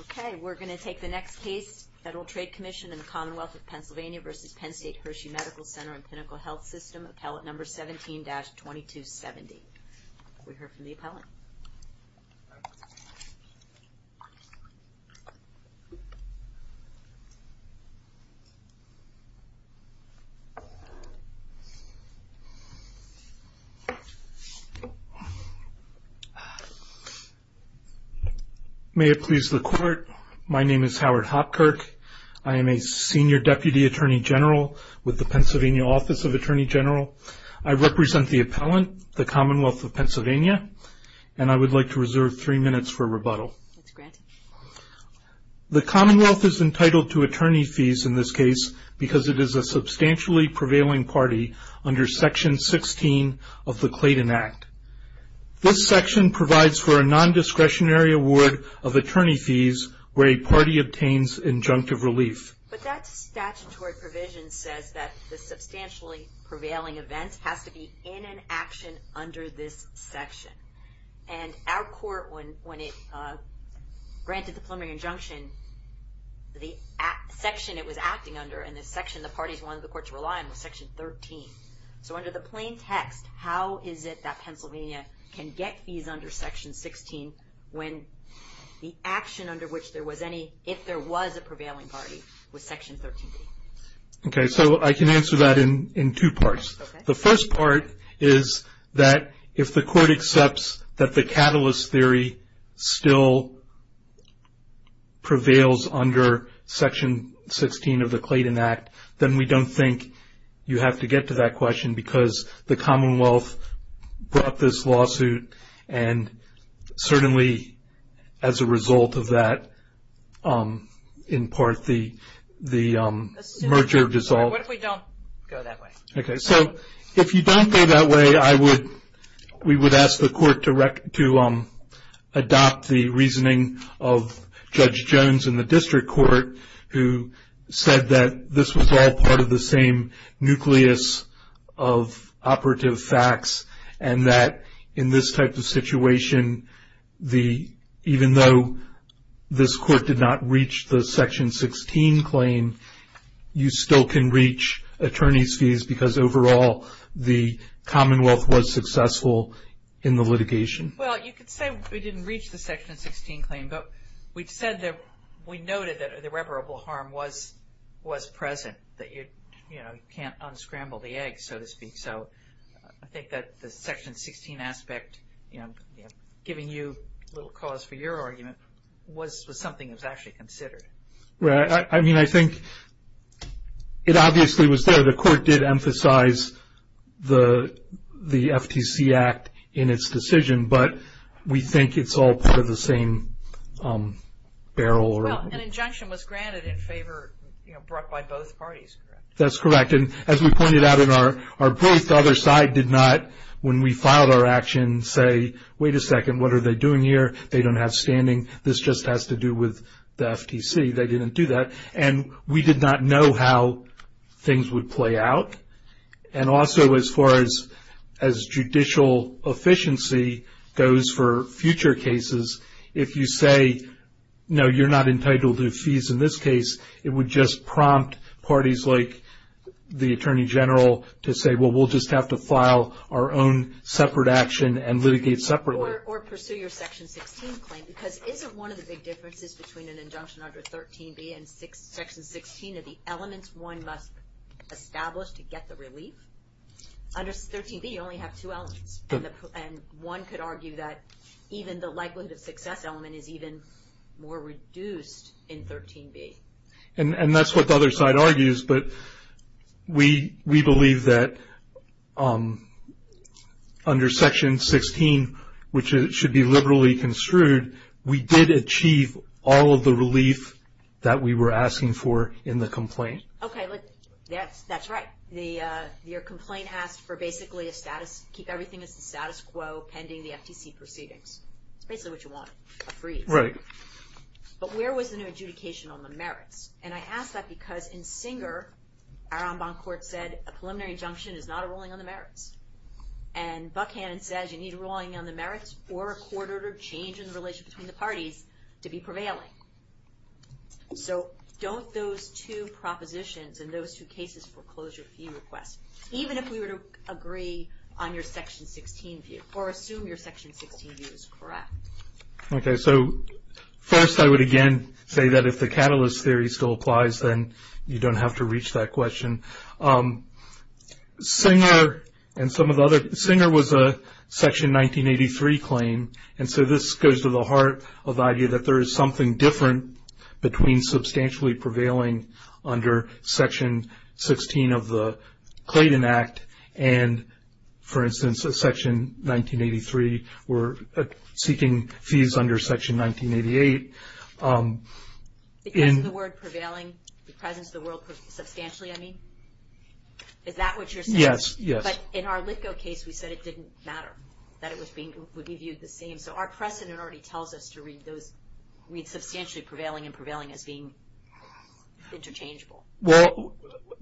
Okay, we're going to take the next case. Federal Trade Commission and the Commonwealth of Pennsylvania versus Penn State Hershey Medical Center and Clinical Health System, Appellate number 17-2270. We heard from the appellant. May it please the court. My name is Howard Hopkirk. I am a senior deputy attorney general with the Pennsylvania Office of Attorney General. I represent the appellant, the Commonwealth of Pennsylvania, and I would like to reserve three minutes for rebuttal. The Commonwealth is entitled to attorney fees in this case because it is a substantially prevailing party under Section 16 of the Clayton Act. This section provides for a non-discretionary award of attorney fees where a party obtains injunctive relief. But that statutory provision says that the substantially prevailing event has to be in an action under this section, and our court, when it granted the preliminary injunction, the section it was acting under and the section the under the plain text, how is it that Pennsylvania can get fees under Section 16 when the action under which there was any, if there was a prevailing party, was Section 13? Okay, so I can answer that in in two parts. The first part is that if the court accepts that the catalyst theory still prevails under Section 16 of the Clayton Act, then we don't think you have to get to that question because the Commonwealth brought this lawsuit and certainly as a result of that, in part, the merger dissolved. Okay, so if you don't go that way, I would, we would ask the court to adopt the reasoning of Judge Jones in the District Court who said that this was all part of the same nucleus of operative facts and that in this type of situation, the, even though this court did not reach the Section 16 claim, you still can reach attorney's fees because overall the Commonwealth was successful in the litigation. Well, you could say we didn't reach the Section 16 claim, but we've said that, we noted that irreparable harm was, was present, that you, you know, you can't unscramble the egg, so to speak, so I think that the Section 16 aspect, you know, giving you a little cause for your argument was something that was actually considered. Right, I mean, I think it obviously was there. The court did emphasize the the FTC Act in its decision, but we think it's all part of the same barrel. Well, an injunction was granted in favor, you know, brought by both parties. That's correct, and as we pointed out in our, our brief, the other side did not, when we filed our action, say, wait a second, what are they doing here? They don't have standing. This just has to do with the FTC. They didn't do that, and we did not know how things would play out, and also as far as, as judicial efficiency goes for future cases, if you say, no, you're not entitled to fees in this case, it would just prompt parties like the Attorney General to say, well, we'll just have to file our own separate action and litigate separately. Or pursue your Section 16 claim, because isn't one of the big differences between an injunction under 13b and Section 16 are the elements one must establish to get the relief? Under 13b, you only have two elements, and one could argue that even the likelihood of success element is even more reduced in 13b. And that's what the other side argues, but we, we believe that under Section 16, which should be liberally construed, we did achieve all of the relief that we were asking for in the complaint. Okay, look, that's, that's right. The, your complaint asked for basically a status, keep everything as the status quo pending the FTC proceedings. It's basically what you want, a freeze. Right. But where was the new adjudication on the merits? And I ask that because in Singer, our en banc court said a preliminary injunction is not a ruling on the merits. And Buckhannon says you need a ruling on the merits or a court-ordered change in the relation between the parties to be prevailing. So don't those two propositions and those two cases foreclose your fee request, even if we were to agree on your Section 16 view, or assume your Section 16 view is correct? Okay, so first I would again say that if the catalyst theory still applies, then you don't have to reach that question. Singer and some of the other, Singer was a Section 1983 claim, and so this goes to the heart of the idea that there is something different between substantially prevailing under Section 16 of the Clayton Act and, for instance, a Section 1983, we're seeking fees under Section 1988. Because of the word prevailing, the presence of the world substantially, I mean? Is that what you're saying? Yes, yes. But in our Litko case, we said it didn't matter that it would be viewed the same. So our precedent already tells us to read those, read substantially prevailing and prevailing as being interchangeable. Well,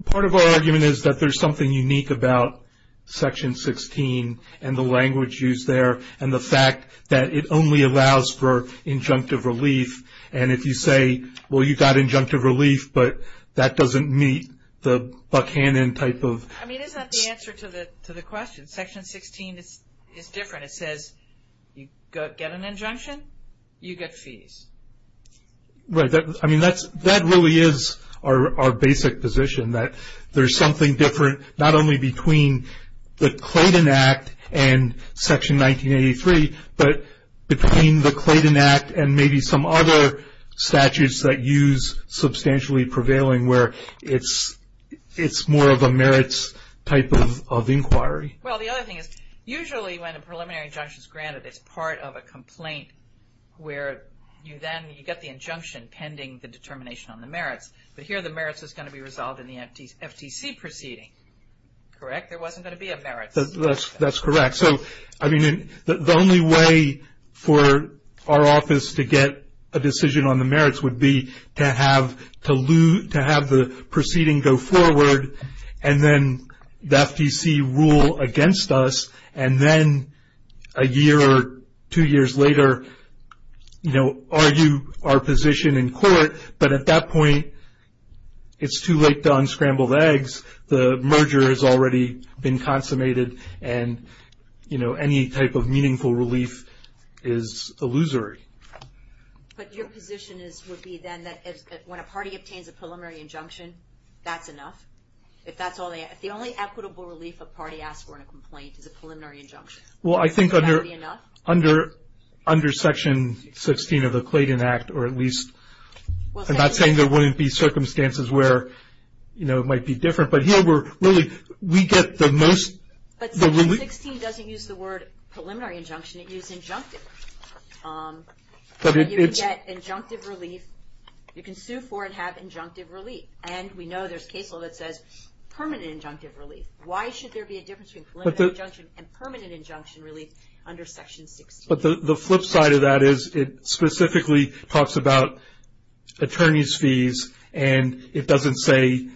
part of our argument is that there's something unique about Section 16 and the language used there, and the fact that it only allows for injunctive relief. And if you say, well, you got injunctive relief, but that doesn't meet the Buchanan type of... I mean, isn't that the answer to the question? Section 16 is different. It says, you get an injunction, you get fees. Right, I mean, that really is our basic position, that there's something different, not only between the Clayton Act and Section 1983, but between the Clayton Act and maybe some other statutes that use substantially prevailing, where it's more of a merits type of inquiry. Well, the other thing is, usually when a preliminary injunction is granted, it's part of a complaint where you then, you get the injunction pending the determination on the merits. But here, the Correct? There wasn't going to be a merits. That's correct. So, I mean, the only way for our office to get a decision on the merits would be to have the proceeding go forward, and then the FTC rule against us, and then a year or two years later, you know, argue our position in court. But at that point, it's too late to unscramble the eggs. The merger has already been consummated, and, you know, any type of meaningful relief is illusory. But your position is, would be then, that when a party obtains a preliminary injunction, that's enough? If that's all they, if the only equitable relief a party asks for in a complaint is a preliminary injunction, is that already enough? Under Section 16 of the Clayton Act, or at least, I'm not saying there wouldn't be circumstances where, you know, it might be different. But here, we're really, we get the most. But Section 16 doesn't use the word preliminary injunction. It uses injunctive. But you can get injunctive relief. You can sue for and have injunctive relief. And we know there's case law that says permanent injunctive relief. Why should there be a difference between preliminary injunction and permanent injunction relief under Section 16? But the flip side of that is, it specifically talks about attorney's fees, and it doesn't say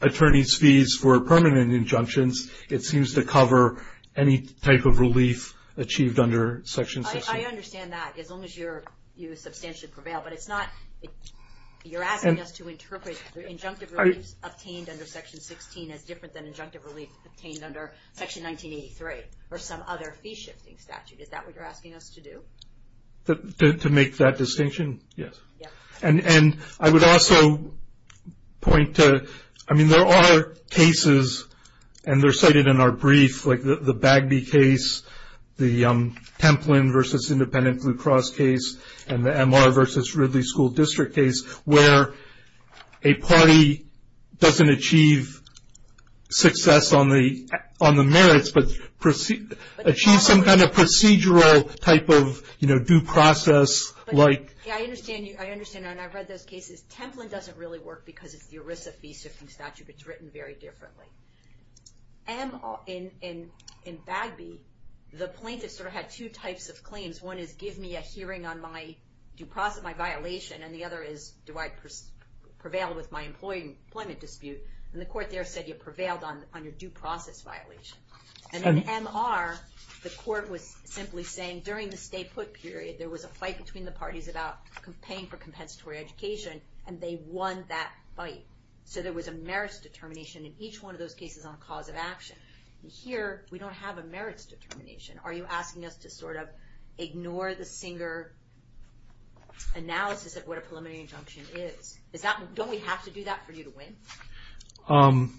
attorney's fees for permanent injunctions. It seems to cover any type of relief achieved under Section 16. I understand that, as long as you substantially prevail. But it's not, you're asking us to interpret injunctive relief obtained under Section 16 as different than injunctive relief obtained under Section 1983, or some other fee-shifting statute. Is that what you're asking us to do? To make that distinction? Yes. And I would also point to, I mean, there are cases, and they're cited in our brief, like the Bagby case, the Templin v. Independent Blue Cross case, and the MR v. Ridley School District case, where a party doesn't achieve success on the merits, but achieves some kind of procedural type of, you know, due process. I understand, and I've read those cases. Templin doesn't really work because it's the ERISA fee-shifting statute. It's written very differently. In Bagby, the plaintiff sort of had two types of claims. One is, give me a hearing on my due process, my violation, and the other is, do I prevail with my employment dispute? And the court there said, you prevailed on your due process violation. And in MR, the court was simply saying, during the stay-put period, there was a fight between the parties about paying for compensatory education, and they won that fight. So there was a merits determination in each one of those cases on cause of action. Here, we don't have a merits determination. Are you asking us to sort of ignore the singer analysis of what a preliminary injunction is? Don't we have to do that for you to win?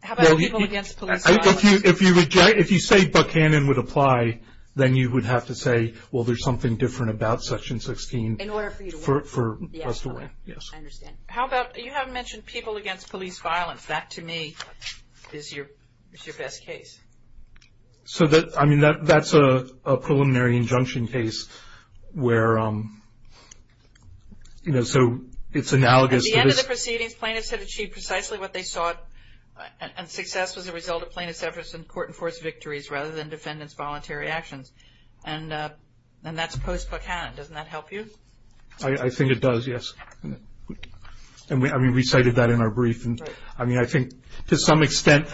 How about people against police violence? If you say Buckhannon would apply, then you would have to say, well, there's something different about Section 16. In order for you to win. For us to win, yes. I understand. How about, you haven't mentioned people against police violence. That, to me, is your best case. So that, I mean, that's a preliminary injunction case where, you know, so it's analogous. At the end of the proceedings, plaintiffs had achieved precisely what they sought, and success was a result of plaintiffs' efforts in court-enforced victories rather than defendants' voluntary actions. And that's post-Buckhannon. Doesn't that help you? I think it does, yes. And we recited that in our brief. I mean, I think to some extent,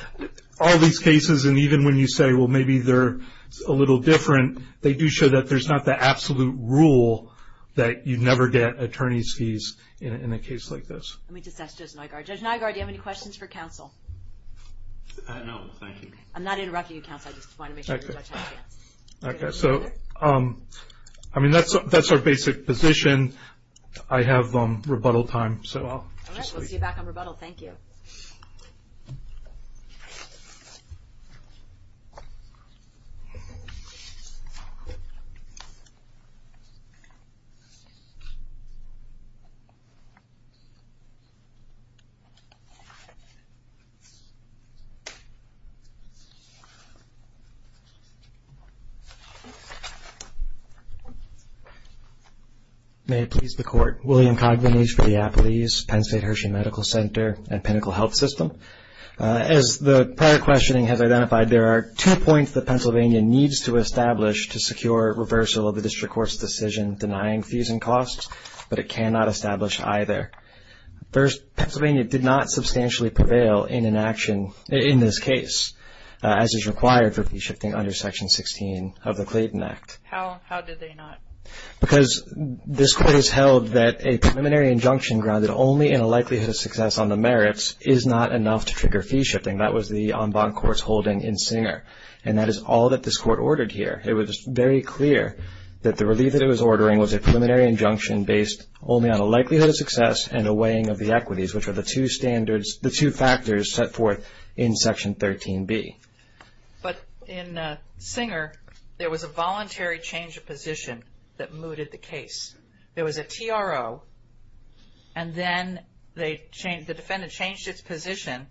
all these cases, and even when you say, well, maybe they're a little different, they do show that there's not the absolute rule that you never get attorney's fees in a case like this. Let me just ask Judge Nygaard. Judge Nygaard, do you have any questions for counsel? No, thank you. I'm not interrupting you, counsel. I just wanted to make sure the judge had a chance. Okay. So, I mean, that's our basic position. I have rebuttal time, so I'll just leave. We'll see you back on rebuttal. Thank you. William Cogburn, HB Diapeles, Penn State Hershey Medical Center, and Pinnacle Health System. As the prior questioning has identified, there are two points that Pennsylvania needs to establish to secure reversal of the district court's decision denying fees and costs, but it cannot establish either. First, Pennsylvania did not substantially prevail in an action in this case, as is required for fee shifting under Section 16 of the Clayton Act. How did they not? Because this court has held that a preliminary injunction grounded only in a likelihood of success on the merits is not enough to trigger fee shifting. That was the en banc court's holding in Singer, and that is all that this court ordered here. It was very clear that the relief that it was ordering was a preliminary injunction based only on a likelihood of success and a weighing of the equities, which are the two standards, the two factors set forth in Section 13B. But in Singer, there was a voluntary change of position that mooted the case. There was a TRO, and then the defendant changed its position,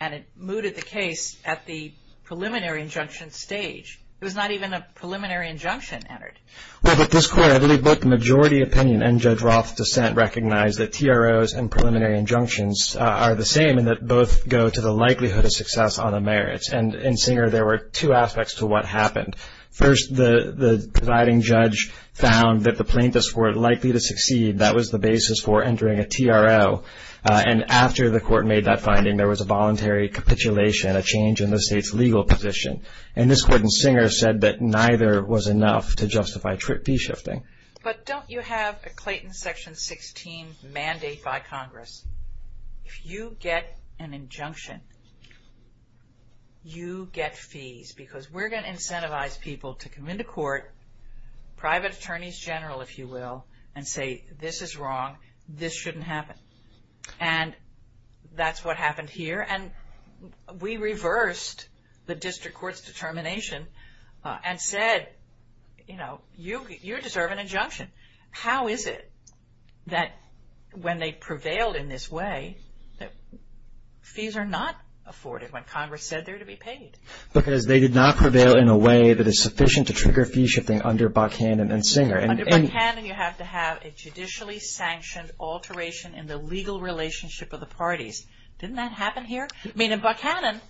and it mooted the case at the preliminary injunction stage. It was not even a preliminary injunction entered. Well, but this court, I believe both the majority opinion and Judge Roth's dissent recognize that TROs and preliminary injunctions are the same in that both go to the likelihood of success on the merits. And in Singer, there were two aspects to what happened. First, the presiding judge found that the plaintiffs were likely to succeed. That was the basis for entering a TRO. And after the court made that finding, there was a voluntary capitulation, a change in the state's legal position. And this court in Singer said that neither was enough to justify fee shifting. But don't you have a Clayton Section 16 mandate by Congress? If you get an injunction, you get fees because we're going to incentivize people to come into court, private attorneys general, if you will, and say this is wrong, this shouldn't happen. And that's what happened here. And we reversed the district court's determination and said, you know, you deserve an injunction. How is it that when they prevailed in this way that fees are not afforded when Congress said they're to be paid? Because they did not prevail in a way that is sufficient to trigger fee shifting under Buchanan and Singer. Under Buchanan, you have to have a judicially sanctioned alteration in the legal relationship of the parties. Didn't that happen here? I mean, in Buchanan,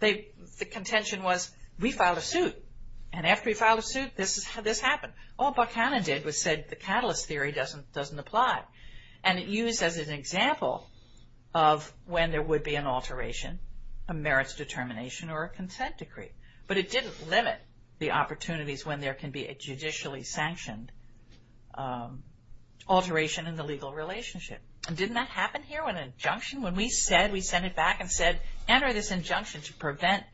the contention was we filed a suit. And after we filed a suit, this happened. All Buchanan did was said the catalyst theory doesn't apply. And it used as an example of when there would be an alteration, a merits determination or a consent decree. But it didn't limit the opportunities when there can be a judicially sanctioned alteration in the legal relationship. And didn't that happen here with an injunction? When we said, we sent it back and said, enter this injunction to prevent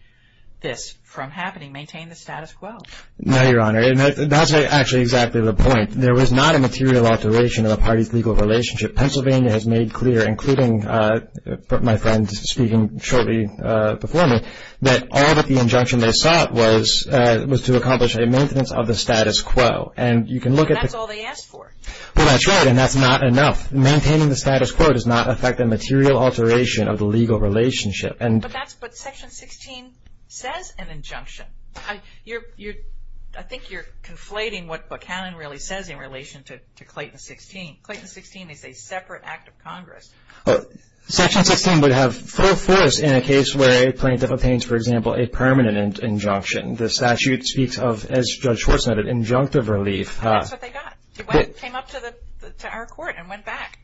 this from happening, maintain the status quo. No, Your Honor. That's actually exactly the point. There was not a material alteration of the parties' legal relationship. Pennsylvania has made clear, including my friend speaking shortly before me, that all that the injunction they sought was to accomplish a maintenance of the status quo. And you can look at the- That's all they asked for. Well, that's right. And that's not enough. Maintaining the status quo does not affect the material alteration of the legal relationship. But that's what Section 16 says, an injunction. I think you're conflating what Buchanan really says in relation to Clayton 16. Clayton 16 is a separate act of Congress. Section 16 would have full force in a case where a plaintiff obtains, for example, a permanent injunction. The statute speaks of, as Judge Schwartz noted, injunctive relief. That's what they got. It came up to our Court and went back.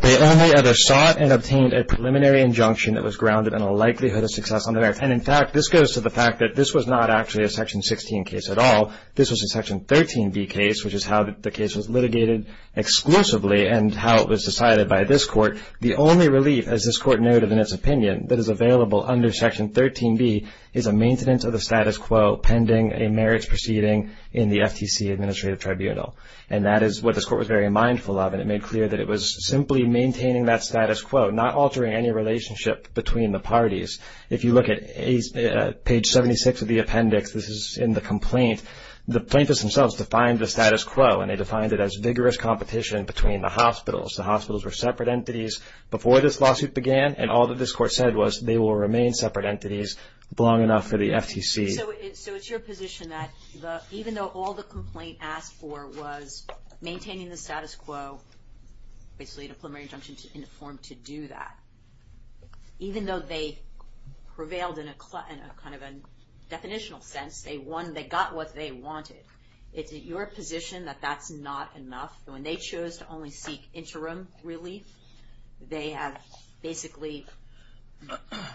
They only ever sought and obtained a preliminary injunction that was grounded in a likelihood of success on the merits. And, in fact, this goes to the fact that this was not actually a Section 16 case at all. This was a Section 13b case, which is how the case was litigated exclusively and how it was decided by this Court. The only relief, as this Court noted in its opinion, that is available under Section 13b is a maintenance of the status quo pending a merits proceeding in the FTC Administrative Tribunal. And that is what this Court was very mindful of, and it made clear that it was simply maintaining that status quo, not altering any relationship between the parties. If you look at page 76 of the appendix, this is in the complaint, the plaintiffs themselves defined the status quo, and they defined it as vigorous competition between the hospitals. The hospitals were separate entities before this lawsuit began, and all that this Court said was they will remain separate entities long enough for the FTC. So it's your position that even though all the complaint asked for was maintaining the status quo, basically a preliminary injunction in the form to do that, even though they prevailed in a kind of a definitional sense, they won, they got what they wanted. Is it your position that that's not enough? When they chose to only seek interim relief, they have basically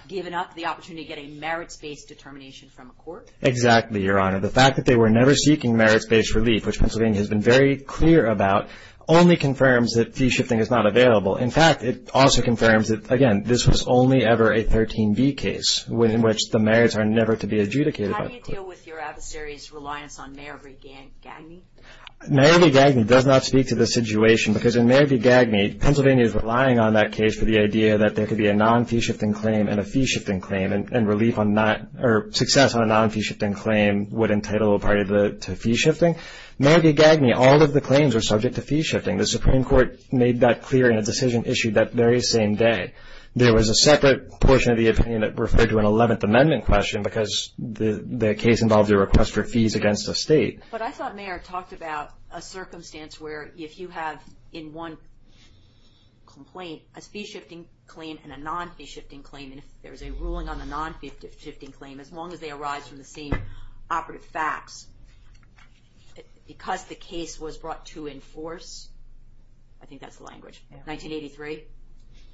given up the opportunity to get a merits-based determination from a court? Exactly, Your Honor. The fact that they were never seeking merits-based relief, which Pennsylvania has been very clear about, only confirms that fee shifting is not available. In fact, it also confirms that, again, this was only ever a 13b case in which the merits are never to be adjudicated by the court. How do you deal with your adversary's reliance on Mary Gagney? Mary Gagney does not speak to this situation because in Mary Gagney, Pennsylvania is relying on that case for the idea that there could be a non-fee shifting claim and a fee shifting claim and relief on that, or success on a non-fee shifting claim would entitle a party to fee shifting. Mary Gagney, all of the claims were subject to fee shifting. The Supreme Court made that clear in a decision issued that very same day. There was a separate portion of the opinion that referred to an 11th Amendment question because the case involved a request for fees against the state. But I thought Mayor talked about a circumstance where if you have in one complaint a fee shifting claim and a non-fee shifting claim, and if there's a ruling on the non-fee shifting claim, as long as they arise from the same operative facts, because the case was brought to enforce, I think that's the language, 1983,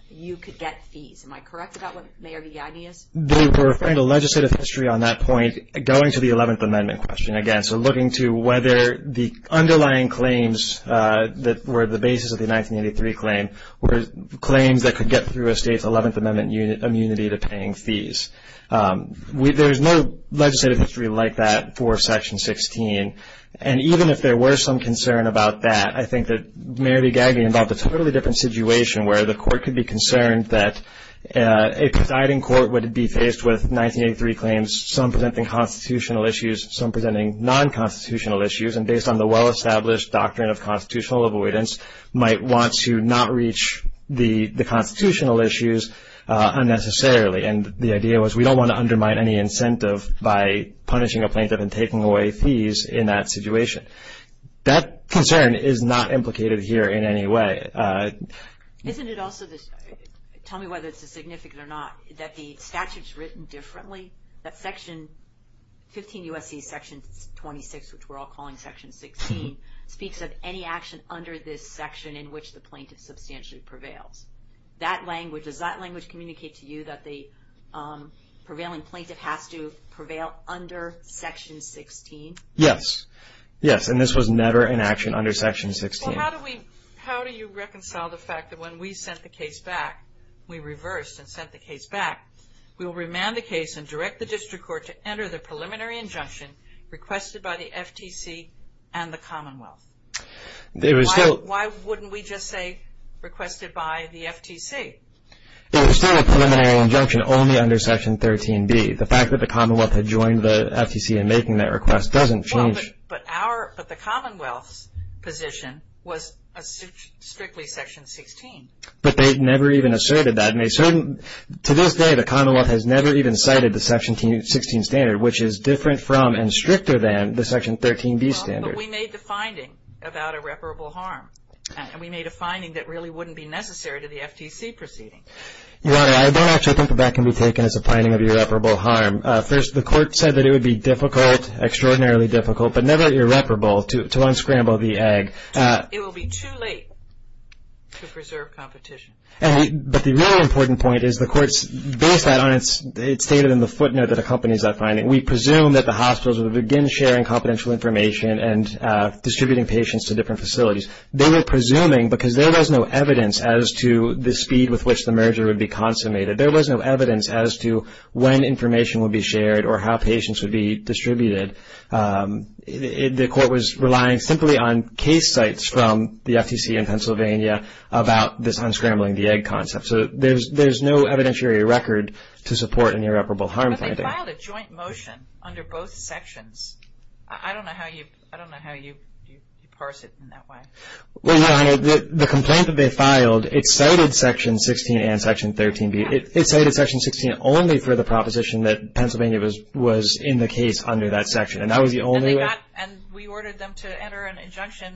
you could get fees. Am I correct about what Mayor Gagney is? They were referring to legislative history on that point, going to the 11th Amendment question again. So looking to whether the underlying claims that were the basis of the 1983 claim were claims that could get through a state's 11th Amendment immunity to paying fees. There's no legislative history like that for Section 16. And even if there were some concern about that, I think that Mary Gagney involved a totally different situation where the court could be concerned that a presiding court would be faced with 1983 claims, some presenting constitutional issues, some presenting non-constitutional issues, and based on the well-established doctrine of constitutional avoidance, might want to not reach the constitutional issues unnecessarily. And the idea was we don't want to undermine any incentive by punishing a plaintiff and taking away fees in that situation. That concern is not implicated here in any way. Isn't it also, tell me whether it's significant or not, that the statute's written differently? That Section 15 U.S.C. Section 26, which we're all calling Section 16, speaks of any action under this section in which the plaintiff substantially prevails. Does that language communicate to you that the prevailing plaintiff has to prevail under Section 16? Yes. Yes. And this was never an action under Section 16. Well, how do you reconcile the fact that when we sent the case back, we reversed and sent the case back, we will remand the case and direct the district court to enter the preliminary injunction requested by the FTC and the Commonwealth? Why wouldn't we just say requested by the FTC? It was still a preliminary injunction only under Section 13b. The fact that the Commonwealth had joined the FTC in making that request doesn't change. But the Commonwealth's position was strictly Section 16. But they never even asserted that. To this day, the Commonwealth has never even cited the Section 16 standard, which is different from and stricter than the Section 13b standard. But we made the finding about irreparable harm, and we made a finding that really wouldn't be necessary to the FTC proceeding. Your Honor, I don't actually think that that can be taken as a finding of irreparable harm. First, the court said that it would be difficult, extraordinarily difficult, but never irreparable to unscramble the egg. It will be too late to preserve competition. But the really important point is the court's based that on its data in the footnote that accompanies that finding. We presume that the hospitals would begin sharing confidential information and distributing patients to different facilities. They were presuming because there was no evidence as to the speed with which the merger would be consummated. There was no evidence as to when information would be shared or how patients would be distributed. The court was relying simply on case sites from the FTC in Pennsylvania about this unscrambling the egg concept. So there's no evidentiary record to support an irreparable harm finding. But they filed a joint motion under both sections. I don't know how you parse it in that way. Well, Your Honor, the complaint that they filed, it cited Section 16 and Section 13B. It cited Section 16 only for the proposition that Pennsylvania was in the case under that section. And that was the only way. And we ordered them to enter an injunction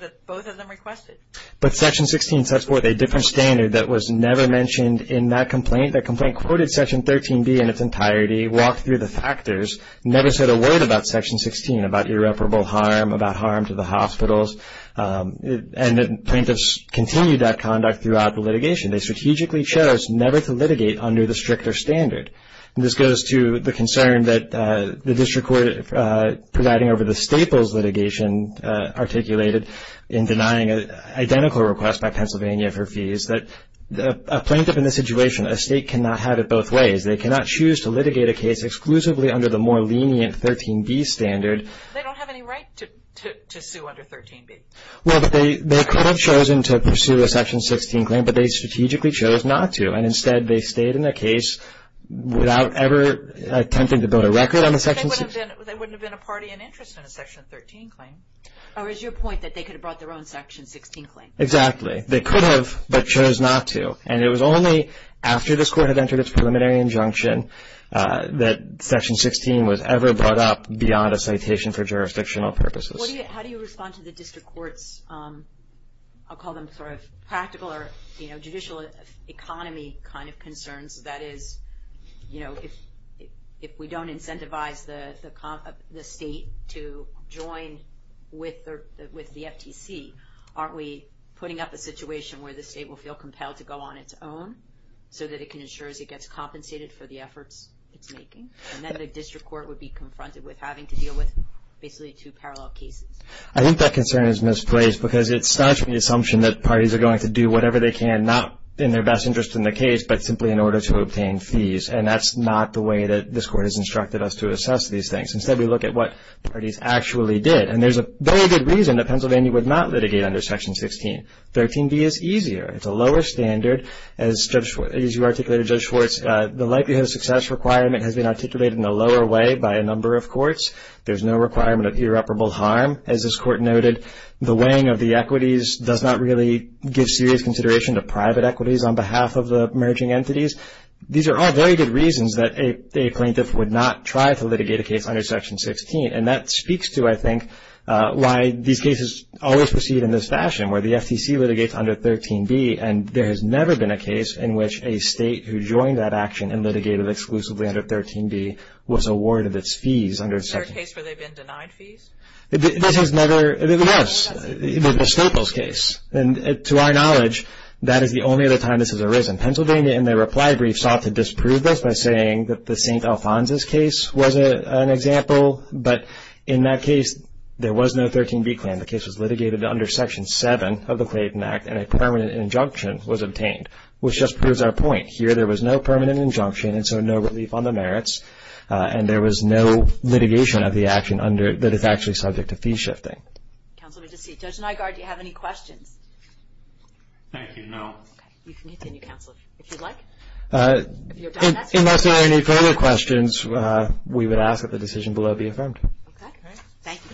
that both of them requested. But Section 16 sets forth a different standard that was never mentioned in that complaint. That complaint quoted Section 13B in its entirety, walked through the factors, never said a word about Section 16, about irreparable harm, about harm to the hospitals. And the plaintiffs continued that conduct throughout the litigation. They strategically chose never to litigate under the stricter standard. And this goes to the concern that the district court providing over the Staples litigation articulated in denying an identical request by Pennsylvania for fees, that a plaintiff in this situation, a state cannot have it both ways. They cannot choose to litigate a case exclusively under the more lenient 13B standard. They don't have any right to sue under 13B. Well, they could have chosen to pursue a Section 16 claim, but they strategically chose not to. And instead, they stayed in the case without ever attempting to build a record on the Section 16. They wouldn't have been a party in interest in a Section 13 claim. Or is your point that they could have brought their own Section 16 claim? Exactly. They could have, but chose not to. And it was only after this court had entered its preliminary injunction that Section 16 was ever brought up beyond a citation for jurisdictional purposes. How do you respond to the district court's, I'll call them sort of practical or, you know, judicial economy kind of concerns? That is, you know, if we don't incentivize the state to join with the FTC, aren't we putting up a situation where the state will feel compelled to go on its own so that it can ensure it gets compensated for the efforts it's making? And then the district court would be confronted with having to deal with basically two parallel cases. I think that concern is misplaced because it starts with the assumption that parties are going to do whatever they can, not in their best interest in the case, but simply in order to obtain fees. And that's not the way that this court has instructed us to assess these things. Instead, we look at what parties actually did. And there's a very good reason that Pennsylvania would not litigate under Section 16. 13b is easier. It's a lower standard. As you articulated, Judge Schwartz, the likelihood of success requirement has been articulated in a lower way by a number of courts. There's no requirement of irreparable harm, as this court noted. The weighing of the equities does not really give serious consideration to private equities on behalf of the emerging entities. These are all very good reasons that a plaintiff would not try to litigate a case under Section 16. And that speaks to, I think, why these cases always proceed in this fashion, where the FTC litigates under 13b, and there has never been a case in which a state who joined that action and litigated exclusively under 13b was awarded its fees under Section 16. Is there a case where they've been denied fees? This has never been the case. It was the Staples case. And to our knowledge, that is the only other time this has arisen. Pennsylvania, in their reply brief, sought to disprove this by saying that the St. Alphonsus case was an example, but in that case, there was no 13b claim. The case was litigated under Section 7 of the Clayton Act, and a permanent injunction was obtained, which just proves our point. Here, there was no permanent injunction, and so no relief on the merits, and there was no litigation of the action that is actually subject to fee shifting. Counsel, let me just see. Judge Nygard, do you have any questions? Thank you, no. Okay. You can continue, counsel, if you'd like. Unless there are any further questions, we would ask that the decision below be affirmed. Okay. Thank you, counsel. Thank you.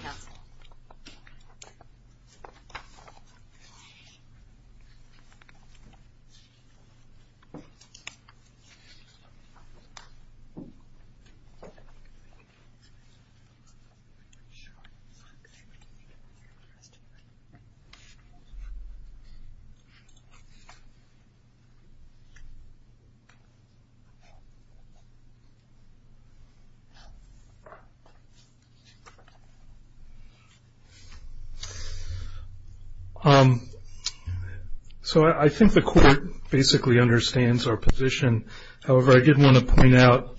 So I think the Court basically understands our position. However, I did want to point out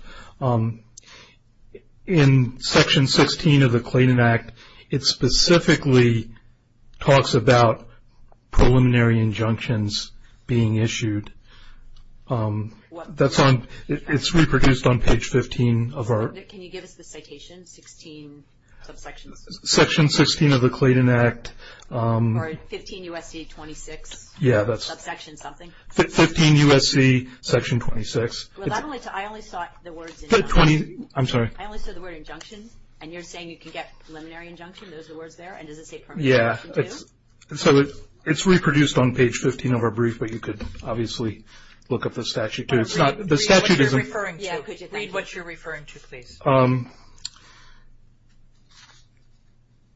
in Section 16 of the Clayton Act, it specifically talks about preliminary injunctions being issued. It's reproduced on page 15 of our – Can you give us the citation, 16 subsections? Section 16 of the Clayton Act. Or 15 U.S.C. 26. Yeah, that's – Subsection something. 15 U.S.C. Section 26. I only saw the words – I'm sorry. I only saw the word injunction. And you're saying you can get preliminary injunction? Those are the words there? And does it say preliminary injunction, too? Yeah. So it's reproduced on page 15 of our brief, but you could obviously look up the statute, too. It's not – the statute isn't – Read what you're referring to. Yeah, could you? Read what you're referring to, please.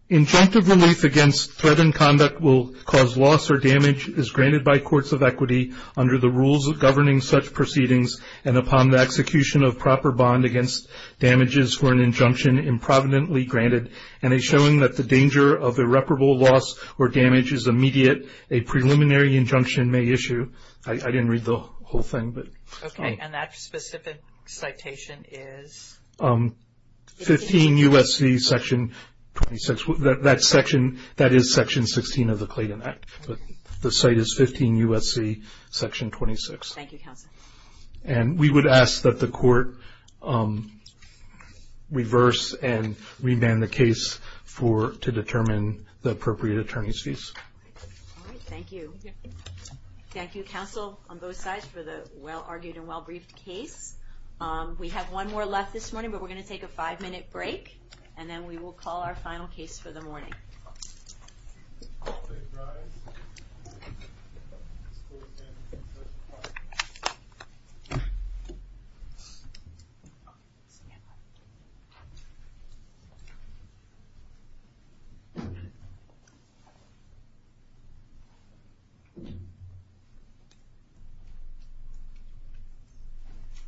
Injunctive relief against threat in conduct will cause loss or damage, is granted by courts of equity under the rules governing such proceedings, and upon the execution of proper bond against damages for an injunction improvidently granted, and a showing that the danger of irreparable loss or damage is immediate, a preliminary injunction may issue. I didn't read the whole thing, but – Okay. And that specific citation is? 15 U.S.C. Section 26. That section – that is Section 16 of the Clayton Act. The site is 15 U.S.C. Section 26. Thank you, counsel. And we would ask that the court reverse and remand the case for – to determine the appropriate attorney's fees. All right. Thank you. Thank you, counsel, on both sides for the well-argued and well-briefed case. We have one more left this morning, but we're going to take a five-minute break, and then we will call our final case for the morning. All rise.